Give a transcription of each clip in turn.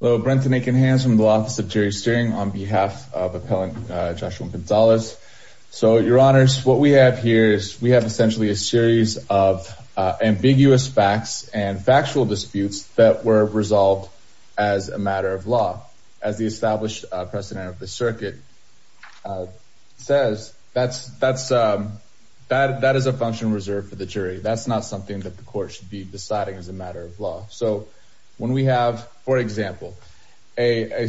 Hello, Brenton Akinhans from the Office of Jury Steering on behalf of Appellant Joshua Gonzalez. So, your honors, what we have here is we have essentially a series of ambiguous facts and factual disputes that were resolved as a matter of law. As the established president of the circuit says, that is a function reserved for the jury. That's not something that the court should be deciding as a matter of law. So, when we have, for example, a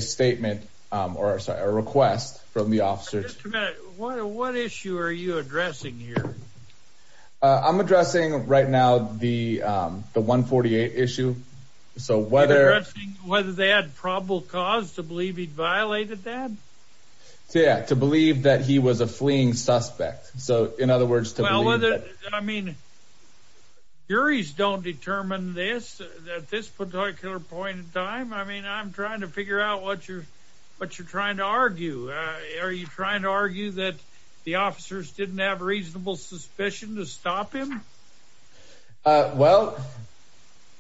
request from the officers... Just a minute. What issue are you addressing here? I'm addressing right now the 148 issue. You're addressing whether they had probable cause to believe he'd violated that? Yeah, to believe that he was a fleeing suspect. Well, I mean, juries don't determine this at this particular point in time. I mean, I'm trying to figure out what you're trying to argue. Are you trying to argue that the officers didn't have reasonable suspicion to stop him? Well,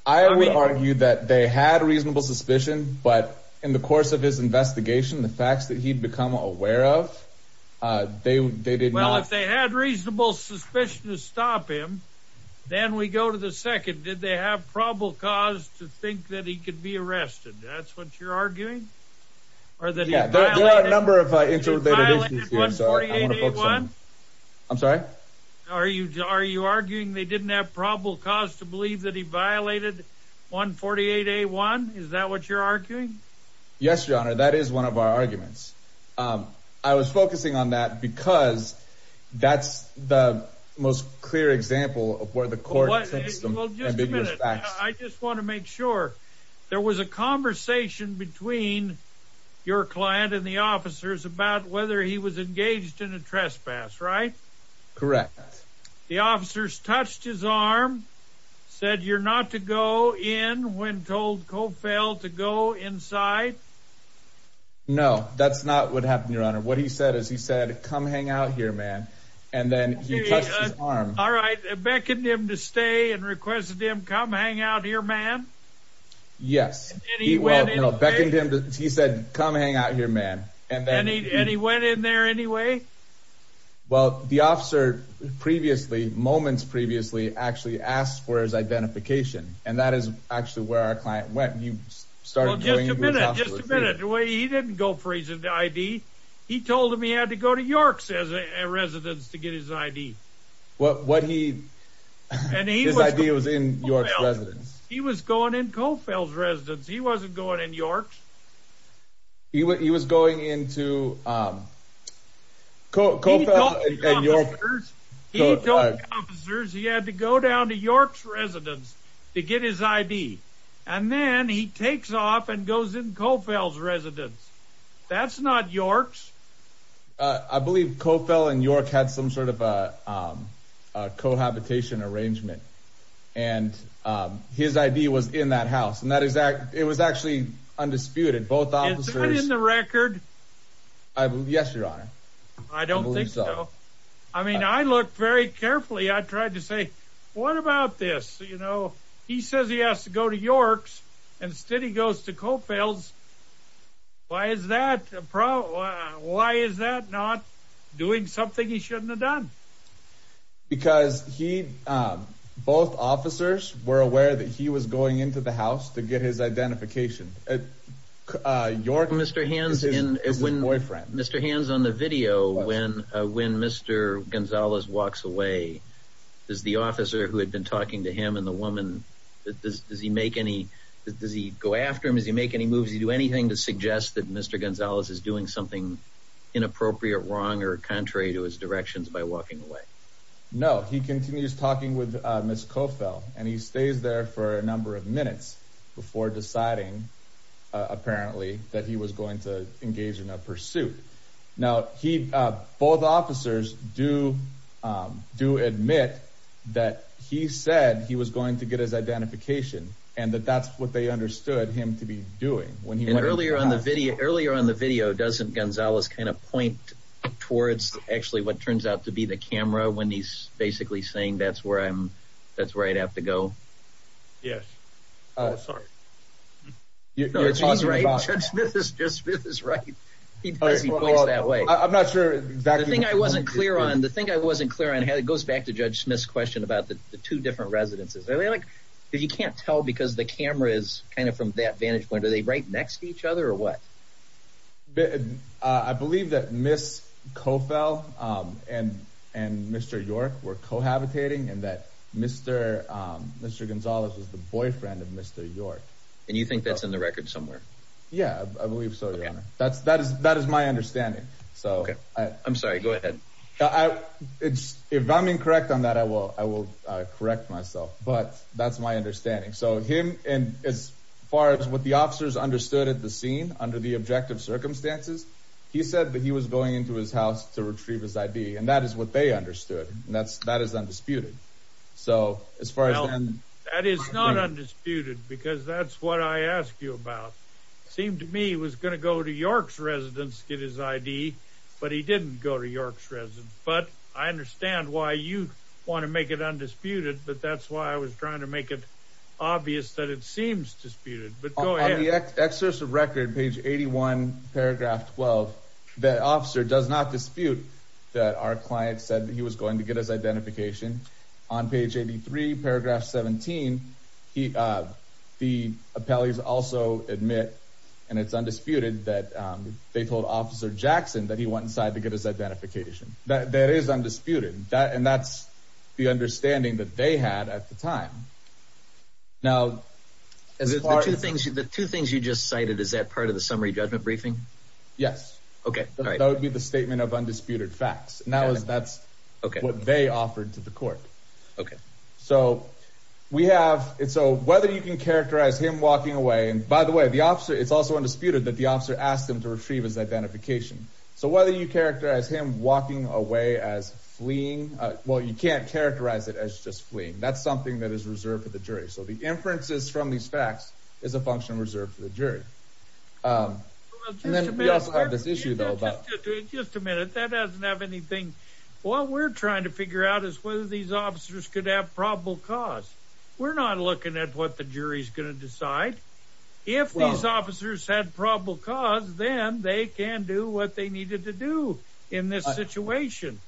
I would argue that they had reasonable suspicion, but in the course of his investigation, the facts that he'd become aware of, they did not... Well, if they had reasonable suspicion to stop him, then we go to the second. Did they have probable cause to think that he could be arrested? That's what you're arguing? Yeah, there are a number of interrelated issues here, so I want to focus on... He violated 148A1? I'm sorry? Are you arguing they didn't have probable cause to believe that he violated 148A1? Is that what you're arguing? Yes, Your Honor, that is one of our arguments. I was focusing on that because that's the most clear example of where the court takes some ambiguous facts. Well, just a minute. I just want to make sure. There was a conversation between your client and the officers about whether he was engaged in a trespass, right? Correct. The officers touched his arm, said you're not to go in when told, co-failed to go inside? No, that's not what happened, Your Honor. What he said is he said, come hang out here, man, and then he touched his arm. All right, beckoned him to stay and requested him, come hang out here, man? Yes, he said, come hang out here, man. And he went in there anyway? Well, the officer moments previously actually asked for his identification, and that is actually where our client went. Well, just a minute. He didn't go for his ID. He told him he had to go to York's residence to get his ID. His ID was in York's residence? He was going in Coffell's residence. He wasn't going in York's. He was going into Coffell's and York's? He told the officers he had to go down to York's residence to get his ID, and then he takes off and goes in Coffell's residence. That's not York's. I believe Coffell and York had some sort of a cohabitation arrangement, and his ID was in that house, and it was actually undisputed. Is that in the record? Yes, Your Honor. I don't think so. I mean, I looked very carefully. I tried to say, what about this? He says he has to go to York's, and instead he goes to Coffell's. Why is that not doing something he shouldn't have done? Because both officers were aware that he was going into the house to get his identification. Mr. Hands, on the video, when Mr. Gonzalez walks away, does the officer who had been talking to him and the woman, does he go after him? Does he make any moves? Does he do anything to suggest that Mr. Gonzalez is doing something inappropriate, wrong, or contrary to his directions by walking away? No. He continues talking with Ms. Coffell, and he stays there for a number of minutes before deciding, apparently, that he was going to engage in a pursuit. Now, both officers do admit that he said he was going to get his identification, and that that's what they understood him to be doing. And earlier on the video, doesn't Gonzalez kind of point towards, actually, what turns out to be the camera when he's basically saying, that's where I have to go? Yes. Judge Smith is right. He does voice that way. The thing I wasn't clear on, it goes back to Judge Smith's question about the two different residences. You can't tell because the camera is kind of from that vantage point. Are they right next to each other, or what? I believe that Ms. Coffell and Mr. York were cohabitating, and that Mr. Gonzalez was the boyfriend of Mr. York. And you think that's in the record somewhere? Yeah, I believe so, Your Honor. That is my understanding. I'm sorry, go ahead. If I'm incorrect on that, I will correct myself, but that's my understanding. So him, and as far as what the officers understood at the scene, under the objective circumstances, he said that he was going into his house to retrieve his ID. And that is what they understood, and that is undisputed. That is not undisputed, because that's what I asked you about. It seemed to me he was going to go to York's residence to get his ID, but he didn't go to York's residence. But I understand why you want to make it undisputed, but that's why I was trying to make it obvious that it seems disputed. On the excerpt of record, page 81, paragraph 12, the officer does not dispute that our client said that he was going to get his identification. On page 83, paragraph 17, the appellees also admit, and it's undisputed, that they told Officer Jackson that he went inside to get his identification. That is undisputed, and that's the understanding that they had at the time. Now, the two things you just cited, is that part of the summary judgment briefing? Yes. Okay. That would be the statement of undisputed facts. And that's what they offered to the court. Okay. So, whether you can characterize him walking away, and by the way, it's also undisputed that the officer asked him to retrieve his identification. So, whether you characterize him walking away as fleeing, well, you can't characterize it as just fleeing. That's something that is reserved for the jury. So, the inferences from these facts is a function reserved for the jury. And then we also have this issue, though. Just a minute. That doesn't have anything. What we're trying to figure out is whether these officers could have probable cause. We're not looking at what the jury's going to decide. If these officers had probable cause, then they can do what they needed to do in this situation.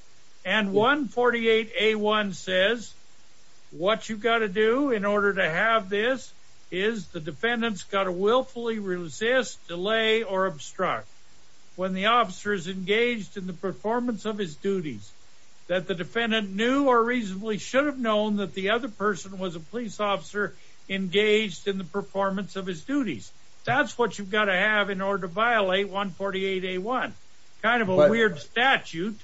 And 148A1 says, what you've got to do in order to have this is the defendant's got to willfully resist, delay, or obstruct. When the officer is engaged in the performance of his duties, that the defendant knew or reasonably should have known that the other person was a police officer engaged in the performance of his duties. That's what you've got to have in order to violate 148A1. Kind of a weird statute,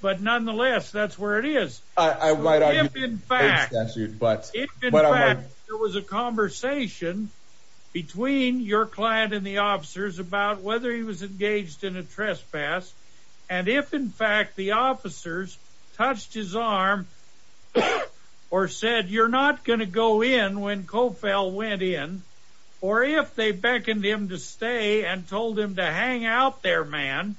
but nonetheless, that's where it is. In fact, there was a conversation between your client and the officers about whether he was engaged in a trespass. And if, in fact, the officers touched his arm or said, you're not going to go in when Cofell went in. Or if they beckoned him to stay and told him to hang out there, man,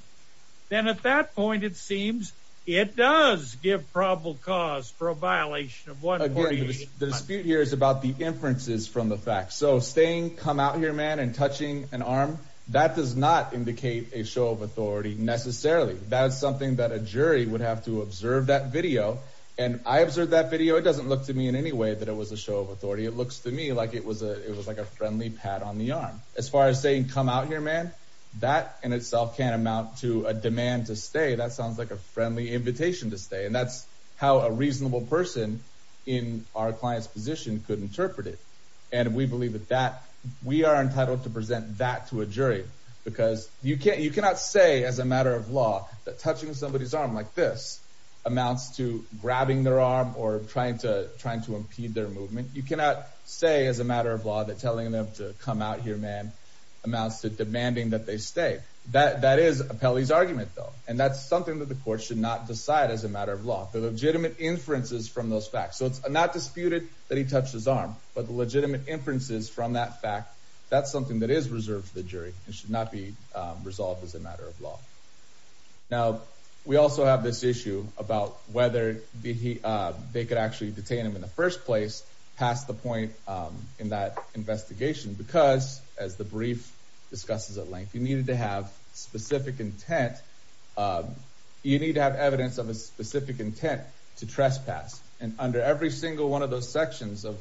then at that point, it seems it does give probable cause for a violation of 148A1. The dispute here is about the inferences from the facts. So staying, come out here, man, and touching an arm, that does not indicate a show of authority necessarily. That is something that a jury would have to observe that video. And I observed that video. It doesn't look to me in any way that it was a show of authority. It looks to me like it was a friendly pat on the arm. As far as saying, come out here, man, that in itself can't amount to a demand to stay. That sounds like a friendly invitation to stay. And that's how a reasonable person in our client's position could interpret it. And we believe that we are entitled to present that to a jury. Because you cannot say as a matter of law that touching somebody's arm like this amounts to grabbing their arm or trying to impede their movement. You cannot say as a matter of law that telling them to come out here, man, amounts to demanding that they stay. That is a Pele's argument, though. And that's something that the court should not decide as a matter of law, the legitimate inferences from those facts. So it's not disputed that he touched his arm, but the legitimate inferences from that fact, that's something that is reserved for the jury. It should not be resolved as a matter of law. Now, we also have this issue about whether they could actually detain him in the first place past the point in that investigation. Because, as the brief discusses at length, you needed to have specific intent. You need to have evidence of a specific intent to trespass. And under every single one of those sections of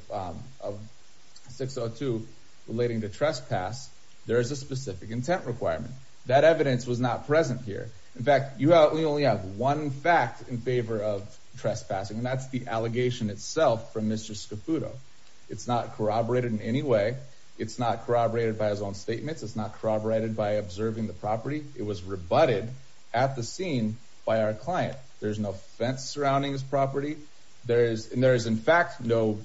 602 relating to trespass, there is a specific intent requirement. That evidence was not present here. In fact, you only have one fact in favor of trespassing, and that's the allegation itself from Mr. Scapputo. It's not corroborated in any way. It's not corroborated by his own statements. It's not corroborated by observing the property. It was rebutted at the scene by our client. There's no fence surrounding his property. And there is, in fact, no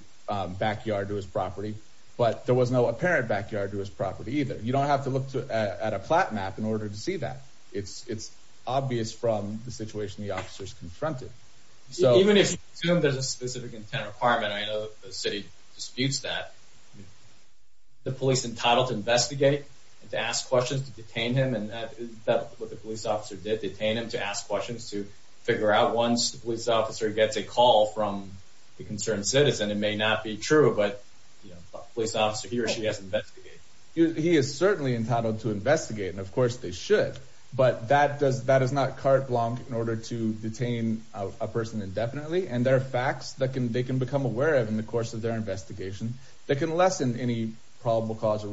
backyard to his property. But there was no apparent backyard to his property either. You don't have to look at a plat map in order to see that. It's obvious from the situation the officer is confronted. Even if there's a specific intent requirement, I know the city disputes that, the police are entitled to investigate, to ask questions, to detain him. And that's what the police officer did, detain him to ask questions, to figure out once the police officer gets a call from the concerned citizen. It may not be true, but the police officer, he or she has to investigate. He is certainly entitled to investigate, and of course they should. But that is not carte blanche in order to detain a person indefinitely. And there are facts that they can become aware of in the course of their investigation that can lessen any probable cause or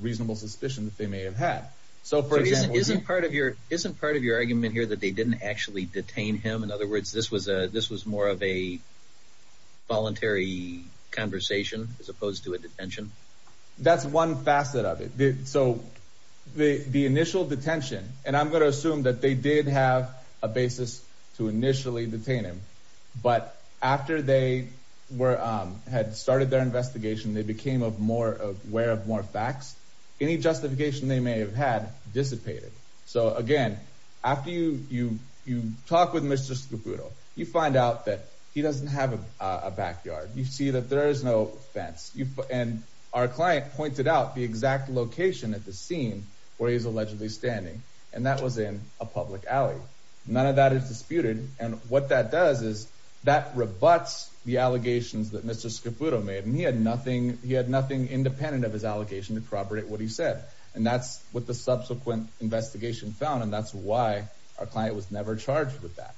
reasonable suspicion that they may have had. So, for example— So isn't part of your argument here that they didn't actually detain him? In other words, this was more of a voluntary conversation as opposed to a detention? That's one facet of it. So, the initial detention—and I'm going to assume that they did have a basis to initially detain him—but after they had started their investigation, they became aware of more facts. Any justification they may have had dissipated. So, again, after you talk with Mr. Scarputo, you find out that he doesn't have a backyard. You see that there is no fence. And our client pointed out the exact location at the scene where he's allegedly standing, and that was in a public alley. None of that is disputed, and what that does is that rebuts the allegations that Mr. Scarputo made. And he had nothing independent of his allegation to corroborate what he said. And that's what the subsequent investigation found, and that's why our client was never charged with that,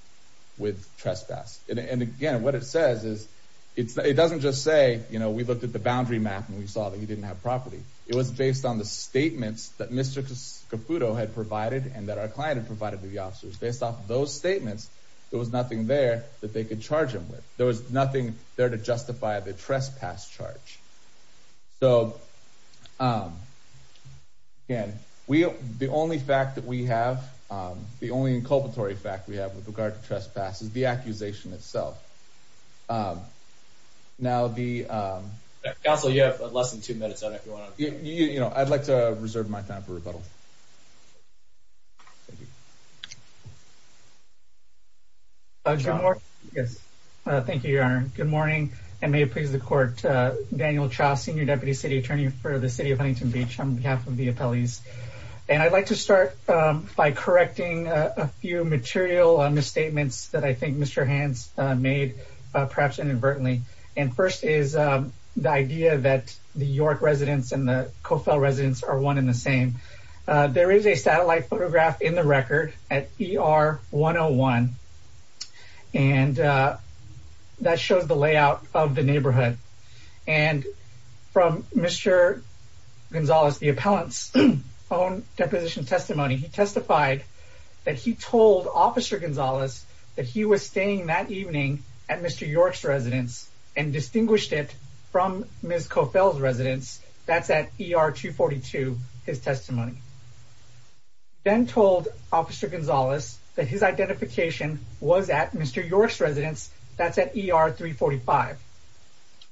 with trespass. And again, what it says is, it doesn't just say, you know, we looked at the boundary map and we saw that he didn't have property. It was based on the statements that Mr. Scarputo had provided and that our client had provided to the officers. Based off of those statements, there was nothing there that they could charge him with. There was nothing there to justify the trespass charge. So, again, the only fact that we have, the only inculpatory fact we have with regard to trespass is the accusation itself. Now, the— Counsel, you have less than two minutes on it. You know, I'd like to reserve my time for rebuttal. Thank you. John? Thank you, Your Honor. Good morning, and may it please the Court. Daniel Cha, Senior Deputy City Attorney for the City of Huntington Beach, on behalf of the appellees. And I'd like to start by correcting a few material misstatements that I think Mr. Hans made, perhaps inadvertently. And first is the idea that the York residents and the Coffell residents are one and the same. There is a satellite photograph in the record at ER 101, and that shows the layout of the neighborhood. And from Mr. Gonzalez, the appellant's own deposition testimony, he testified that he told Officer Gonzalez that he was staying that evening at Mr. York's residence and distinguished it from Ms. Coffell's residence. That's at ER 242, his testimony. Ben told Officer Gonzalez that his identification was at Mr. York's residence. That's at ER 345.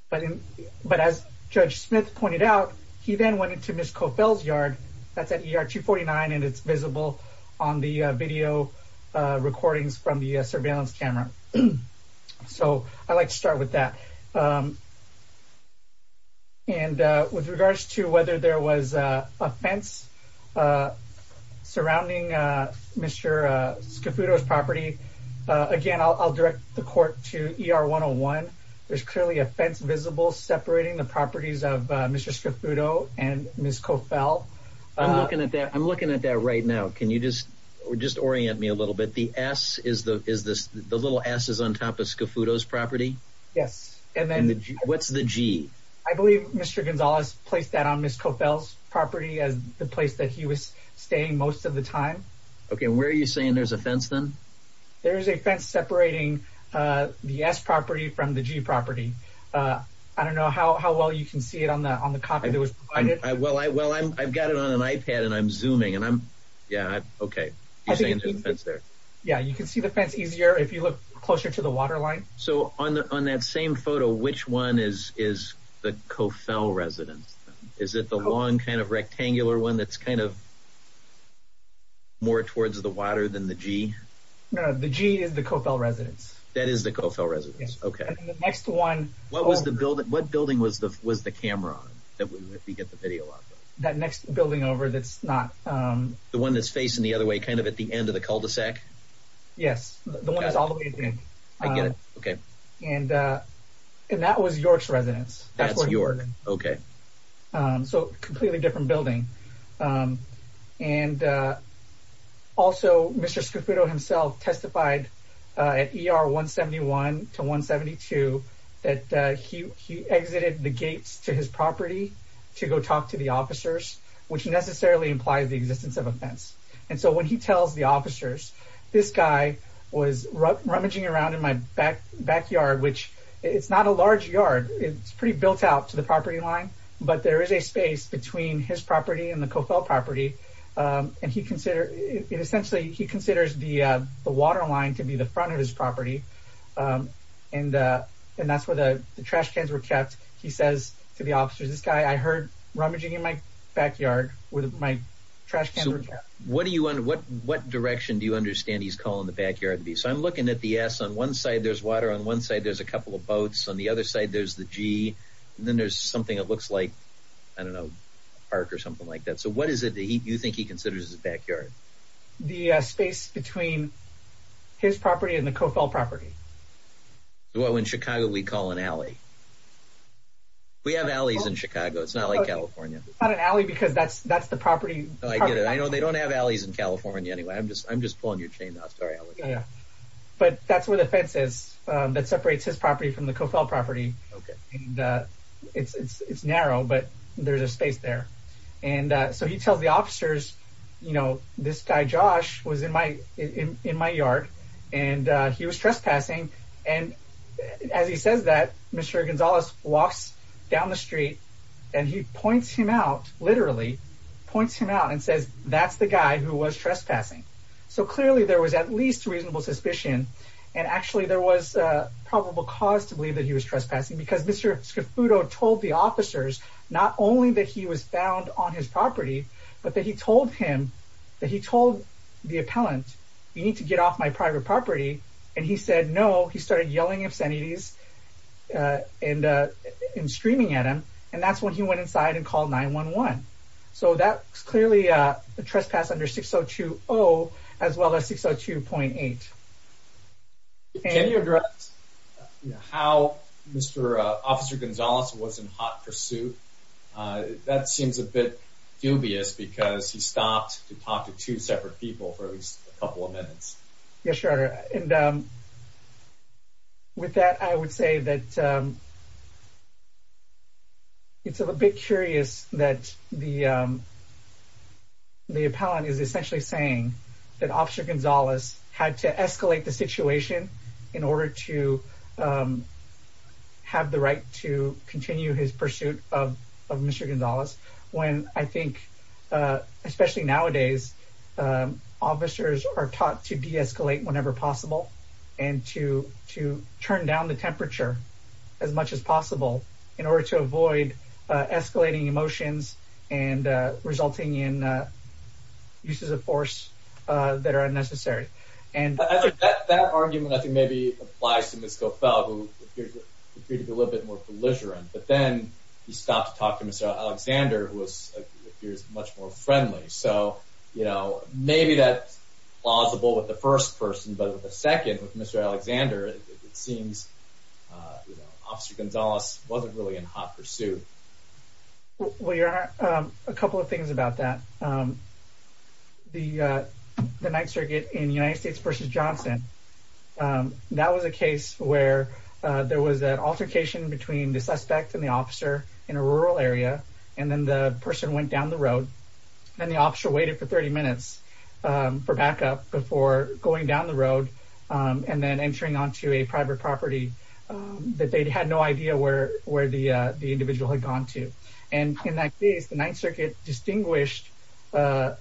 But as Judge Smith pointed out, he then went into Ms. Coffell's yard. That's at ER 249, and it's visible on the video recordings from the surveillance camera. So I'd like to start with that. And with regards to whether there was a fence surrounding Mr. Scafudo's property, again, I'll direct the court to ER 101. There's clearly a fence visible separating the properties of Mr. Scafudo and Ms. Coffell. I'm looking at that. I'm looking at that right now. Can you just orient me a little bit? The S is the little S is on top of Scafudo's property? Yes. And what's the G? I believe Mr. Gonzalez placed that on Ms. Coffell's property as the place that he was staying most of the time. Okay, and where are you saying there's a fence then? There is a fence separating the S property from the G property. I don't know how well you can see it on the copy that was provided. Well, I've got it on an iPad, and I'm zooming, and I'm – yeah, okay. You're saying there's a fence there? Yeah, you can see the fence easier if you look closer to the waterline. So on that same photo, which one is the Coffell residence? Is it the long kind of rectangular one that's kind of more towards the water than the G? No, the G is the Coffell residence. That is the Coffell residence, okay. And the next one – What building was the camera on that we get the video of? That next building over that's not – The one that's facing the other way kind of at the end of the cul-de-sac? Yes, the one that's all the way at the end. I get it, okay. And that was York's residence. That's York, okay. So a completely different building. And also Mr. Scofudo himself testified at ER 171 to 172 that he exited the gates to his property to go talk to the officers, which necessarily implies the existence of a fence. And so when he tells the officers, this guy was rummaging around in my backyard, which it's not a large yard. It's pretty built out to the property line, but there is a space between his property and the Coffell property, and essentially he considers the waterline to be the front of his property, and that's where the trash cans were kept. He says to the officers, this guy I heard rummaging in my backyard with my trash cans. So what direction do you understand he's calling the backyard to be? So I'm looking at the S. On one side there's water, on one side there's a couple of boats, on the other side there's the G, and then there's something that looks like a park or something like that. So what is it that you think he considers his backyard? The space between his property and the Coffell property. Well, in Chicago we call an alley. We have alleys in Chicago. It's not like California. It's not an alley because that's the property. I get it. I know they don't have alleys in California anyway. I'm just pulling your chain off. Sorry. Yeah, but that's where the fence is that separates his property from the Coffell property. It's narrow, but there's a space there. So he tells the officers, you know, this guy Josh was in my yard, and he was trespassing. And as he says that, Mr. Gonzalez walks down the street, and he points him out, literally points him out and says, that's the guy who was trespassing. So clearly there was at least reasonable suspicion, and actually there was probable cause to believe that he was trespassing because Mr. Scafudo told the officers not only that he was found on his property but that he told him, that he told the appellant, you need to get off my private property, and he said no. He started yelling obscenities and screaming at him, and that's when he went inside and called 911. So that's clearly a trespass under 6020 as well as 602.8. Can you address how Mr. Officer Gonzalez was in hot pursuit? That seems a bit dubious because he stopped to talk to two separate people for at least a couple of minutes. Yes, Your Honor. And with that, I would say that it's a bit curious that the appellant is essentially saying that Officer Gonzalez had to escalate the situation in order to have the right to continue his pursuit of Mr. Gonzalez when I think, especially nowadays, officers are taught to deescalate whenever possible and to turn down the temperature as much as possible in order to avoid escalating emotions and resulting in uses of force that are unnecessary. That argument, I think, maybe applies to Ms. Cofel, who appeared to be a little bit more belligerent, but then he stopped to talk to Mr. Alexander, who appears much more friendly. So maybe that's plausible with the first person, but with the second, with Mr. Alexander, it seems Officer Gonzalez wasn't really in hot pursuit. Well, Your Honor, a couple of things about that. That was a case where there was an altercation between the suspect and the officer in a rural area, and then the person went down the road. Then the officer waited for 30 minutes for backup before going down the road and then entering onto a private property that they had no idea where the individual had gone to. And in that case, the Ninth Circuit distinguished the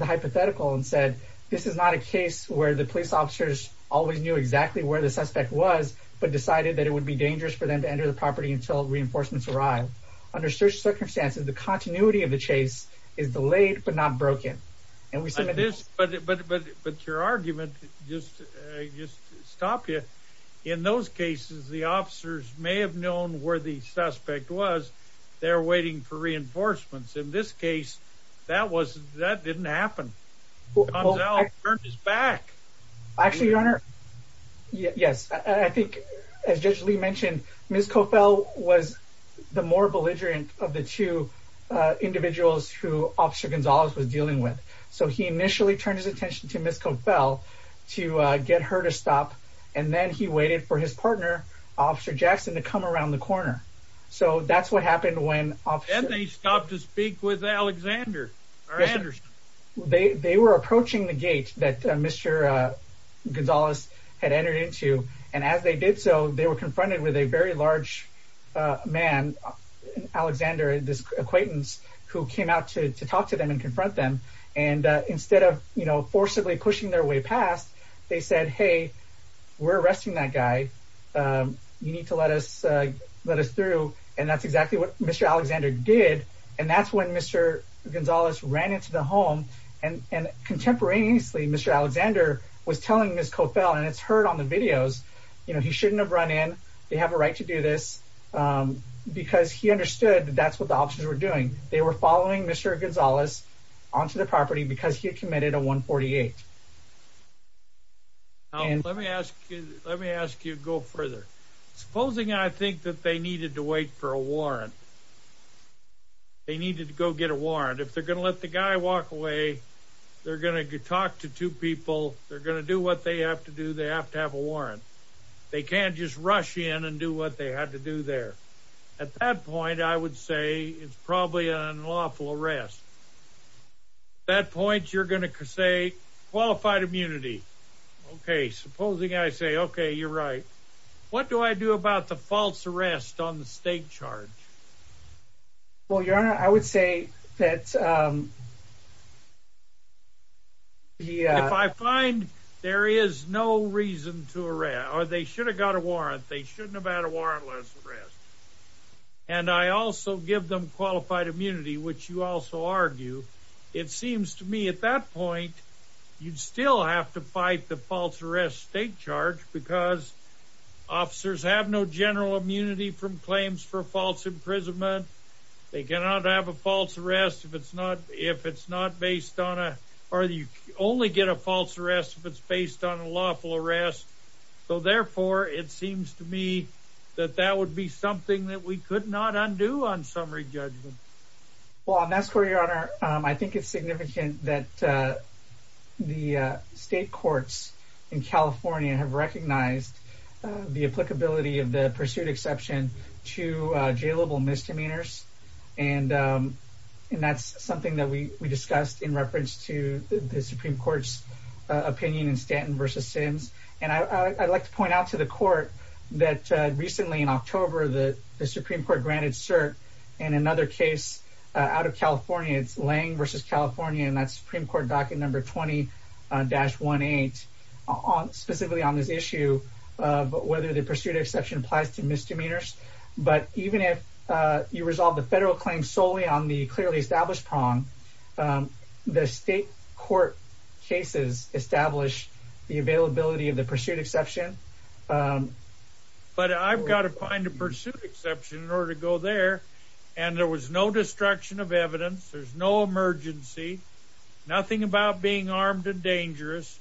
hypothetical and said this is not a case where the police officers always knew exactly where the suspect was but decided that it would be dangerous for them to enter the property until reinforcements arrived. Under such circumstances, the continuity of the chase is delayed but not broken. But your argument just stopped you. In those cases, the officers may have known where the suspect was. They were waiting for reinforcements. In this case, that didn't happen. Gonzalez turned his back. Actually, Your Honor, yes. I think as Judge Lee mentioned, Ms. Cofell was the more belligerent of the two individuals who Officer Gonzalez was dealing with. So he initially turned his attention to Ms. Cofell to get her to stop, and then he waited for his partner, Officer Jackson, to come around the corner. So that's what happened when Officer— Why didn't they stop to speak with Alexander or Anderson? They were approaching the gate that Mr. Gonzalez had entered into, and as they did so, they were confronted with a very large man, Alexander, this acquaintance, who came out to talk to them and confront them. And instead of forcibly pushing their way past, they said, hey, we're arresting that guy. You need to let us through. And that's exactly what Mr. Alexander did, and that's when Mr. Gonzalez ran into the home. And contemporaneously, Mr. Alexander was telling Ms. Cofell, and it's heard on the videos, you know, he shouldn't have run in, they have a right to do this, because he understood that that's what the officers were doing. They were following Mr. Gonzalez onto the property because he had committed a 148. Let me ask you to go further. Supposing I think that they needed to wait for a warrant. They needed to go get a warrant. If they're going to let the guy walk away, they're going to talk to two people, they're going to do what they have to do, they have to have a warrant. They can't just rush in and do what they had to do there. At that point, I would say it's probably an unlawful arrest. At that point, you're going to say qualified immunity. Okay, supposing I say, okay, you're right. What do I do about the false arrest on the state charge? Well, Your Honor, I would say that the... If I find there is no reason to arrest, or they should have got a warrant, they shouldn't have had a warrantless arrest, and I also give them qualified immunity, which you also argue, it seems to me at that point, you'd still have to fight the false arrest state charge because officers have no general immunity from claims for false imprisonment. They cannot have a false arrest if it's not based on a... Or you only get a false arrest if it's based on a lawful arrest. So therefore, it seems to me that that would be something that we could not undo on summary judgment. Well, that's correct, Your Honor. I think it's significant that the state courts in California have recognized the applicability of the pursuit exception to jailable misdemeanors, and that's something that we discussed in reference to the Supreme Court's opinion in Stanton v. Sims. And I'd like to point out to the court that recently in October, the Supreme Court granted cert in another case out of California. It's Lange v. California, and that's Supreme Court docket number 20-18, specifically on this issue of whether the pursuit exception applies to misdemeanors. But even if you resolve the federal claim solely on the clearly established prong, the state court cases establish the availability of the pursuit exception. But I've got to find a pursuit exception in order to go there, and there was no destruction of evidence. There's no emergency, nothing about being armed and dangerous.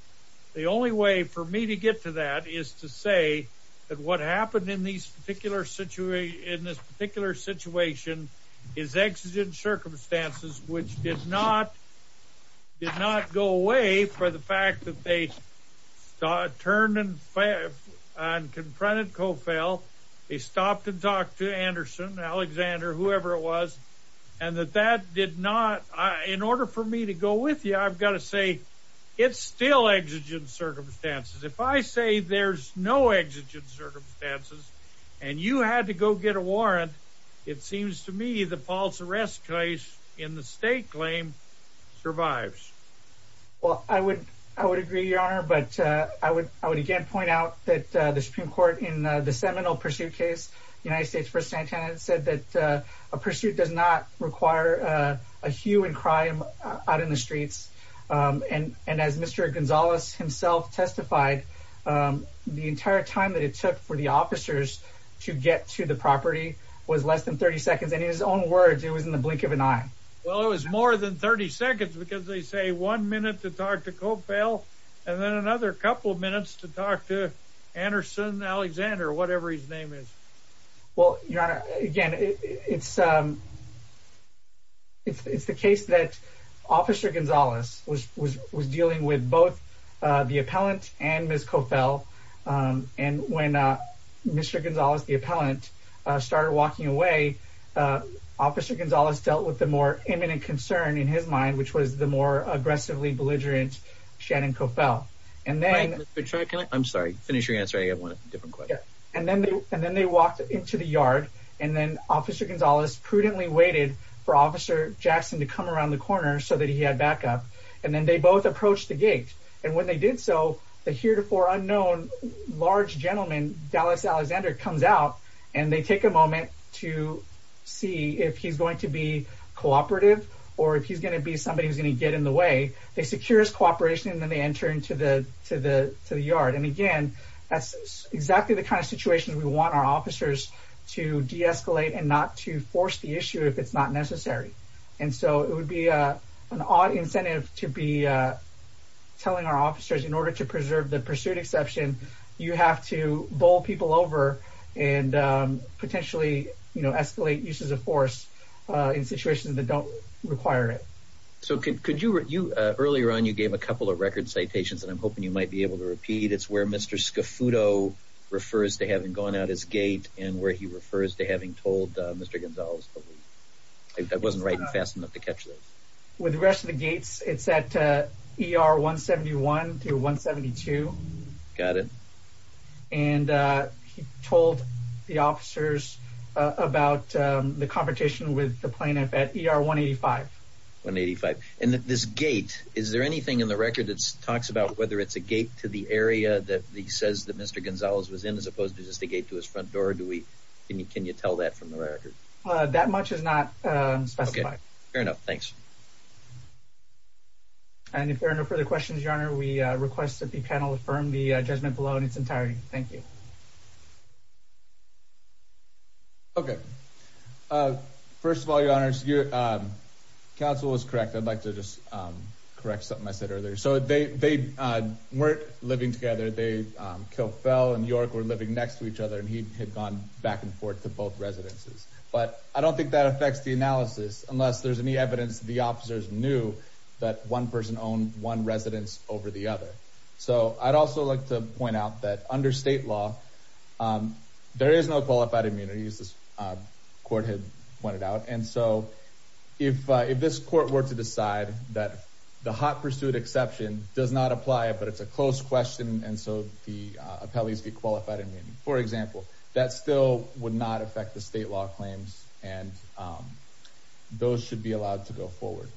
The only way for me to get to that is to say that what happened in this particular situation is exigent circumstances, which did not go away for the fact that they turned and confronted Cofell. They stopped and talked to Anderson, Alexander, whoever it was, and that that did not. In order for me to go with you, I've got to say it's still exigent circumstances. If I say there's no exigent circumstances and you had to go get a warrant, it seems to me the false arrest case in the state claim survives. Well, I would agree, Your Honor, but I would again point out that the Supreme Court in the seminal pursuit case, United States v. Santana, said that a pursuit does not require a hue and cry out in the streets. And as Mr. Gonzalez himself testified, the entire time that it took for the officers to get to the property was less than 30 seconds. And in his own words, it was in the blink of an eye. Well, it was more than 30 seconds because they say one minute to talk to Cofell and then another couple of minutes to talk to Anderson, Alexander, whatever his name is. Well, Your Honor, again, it's the case that Officer Gonzalez was dealing with both the appellant and Ms. Cofell. And when Mr. Gonzalez, the appellant, started walking away, Officer Gonzalez dealt with the more imminent concern in his mind, which was the more aggressively belligerent Shannon Cofell. I'm sorry. Finish your answer. I have one different question. And then they walked into the yard, and then Officer Gonzalez prudently waited for Officer Jackson to come around the corner so that he had backup. And then they both approached the gate. And when they did so, the heretofore unknown large gentleman, Dallas Alexander, comes out, and they take a moment to see if he's going to be cooperative or if he's going to be somebody who's going to get in the way. They secure his cooperation, and then they enter into the yard. And again, that's exactly the kind of situation we want our officers to de-escalate and not to force the issue if it's not necessary. And so it would be an odd incentive to be telling our officers, in order to preserve the pursuit exception, you have to bowl people over and potentially escalate uses of force in situations that don't require it. So earlier on, you gave a couple of record citations, and I'm hoping you might be able to repeat. It's where Mr. Scafudo refers to having gone out his gate and where he refers to having told Mr. Gonzalez. I wasn't writing fast enough to catch this. With the rest of the gates, it's at ER 171 through 172. Got it. And he told the officers about the confrontation with the plaintiff at ER 185. 185. And this gate, is there anything in the record that talks about whether it's a gate to the area that he says that Mr. Gonzalez was in, as opposed to just a gate to his front door? Can you tell that from the record? That much is not specified. Okay. Fair enough. Thanks. And if there are no further questions, Your Honor, we request that the panel affirm the judgment below in its entirety. Thank you. Okay. First of all, Your Honor, counsel was correct. I'd like to just correct something I said earlier. So they weren't living together. Kilfell and York were living next to each other, and he had gone back and forth to both residences. But I don't think that affects the analysis, unless there's any evidence the officers knew that one person owned one residence over the other. So I'd also like to point out that under state law, there is no qualified immunity, as the court had pointed out. And so if this court were to decide that the hot pursuit exception does not apply, but it's a close question, and so the appellees get qualified immunity, for example, that still would not affect the state law claims, and those should be allowed to go forward.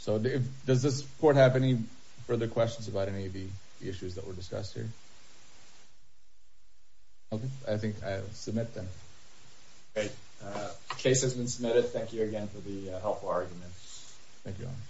So does this court have any further questions about any of the issues that were discussed here? Okay. I think I submit them. Great. The case has been submitted. Thank you again for the helpful argument. Thank you, Your Honor.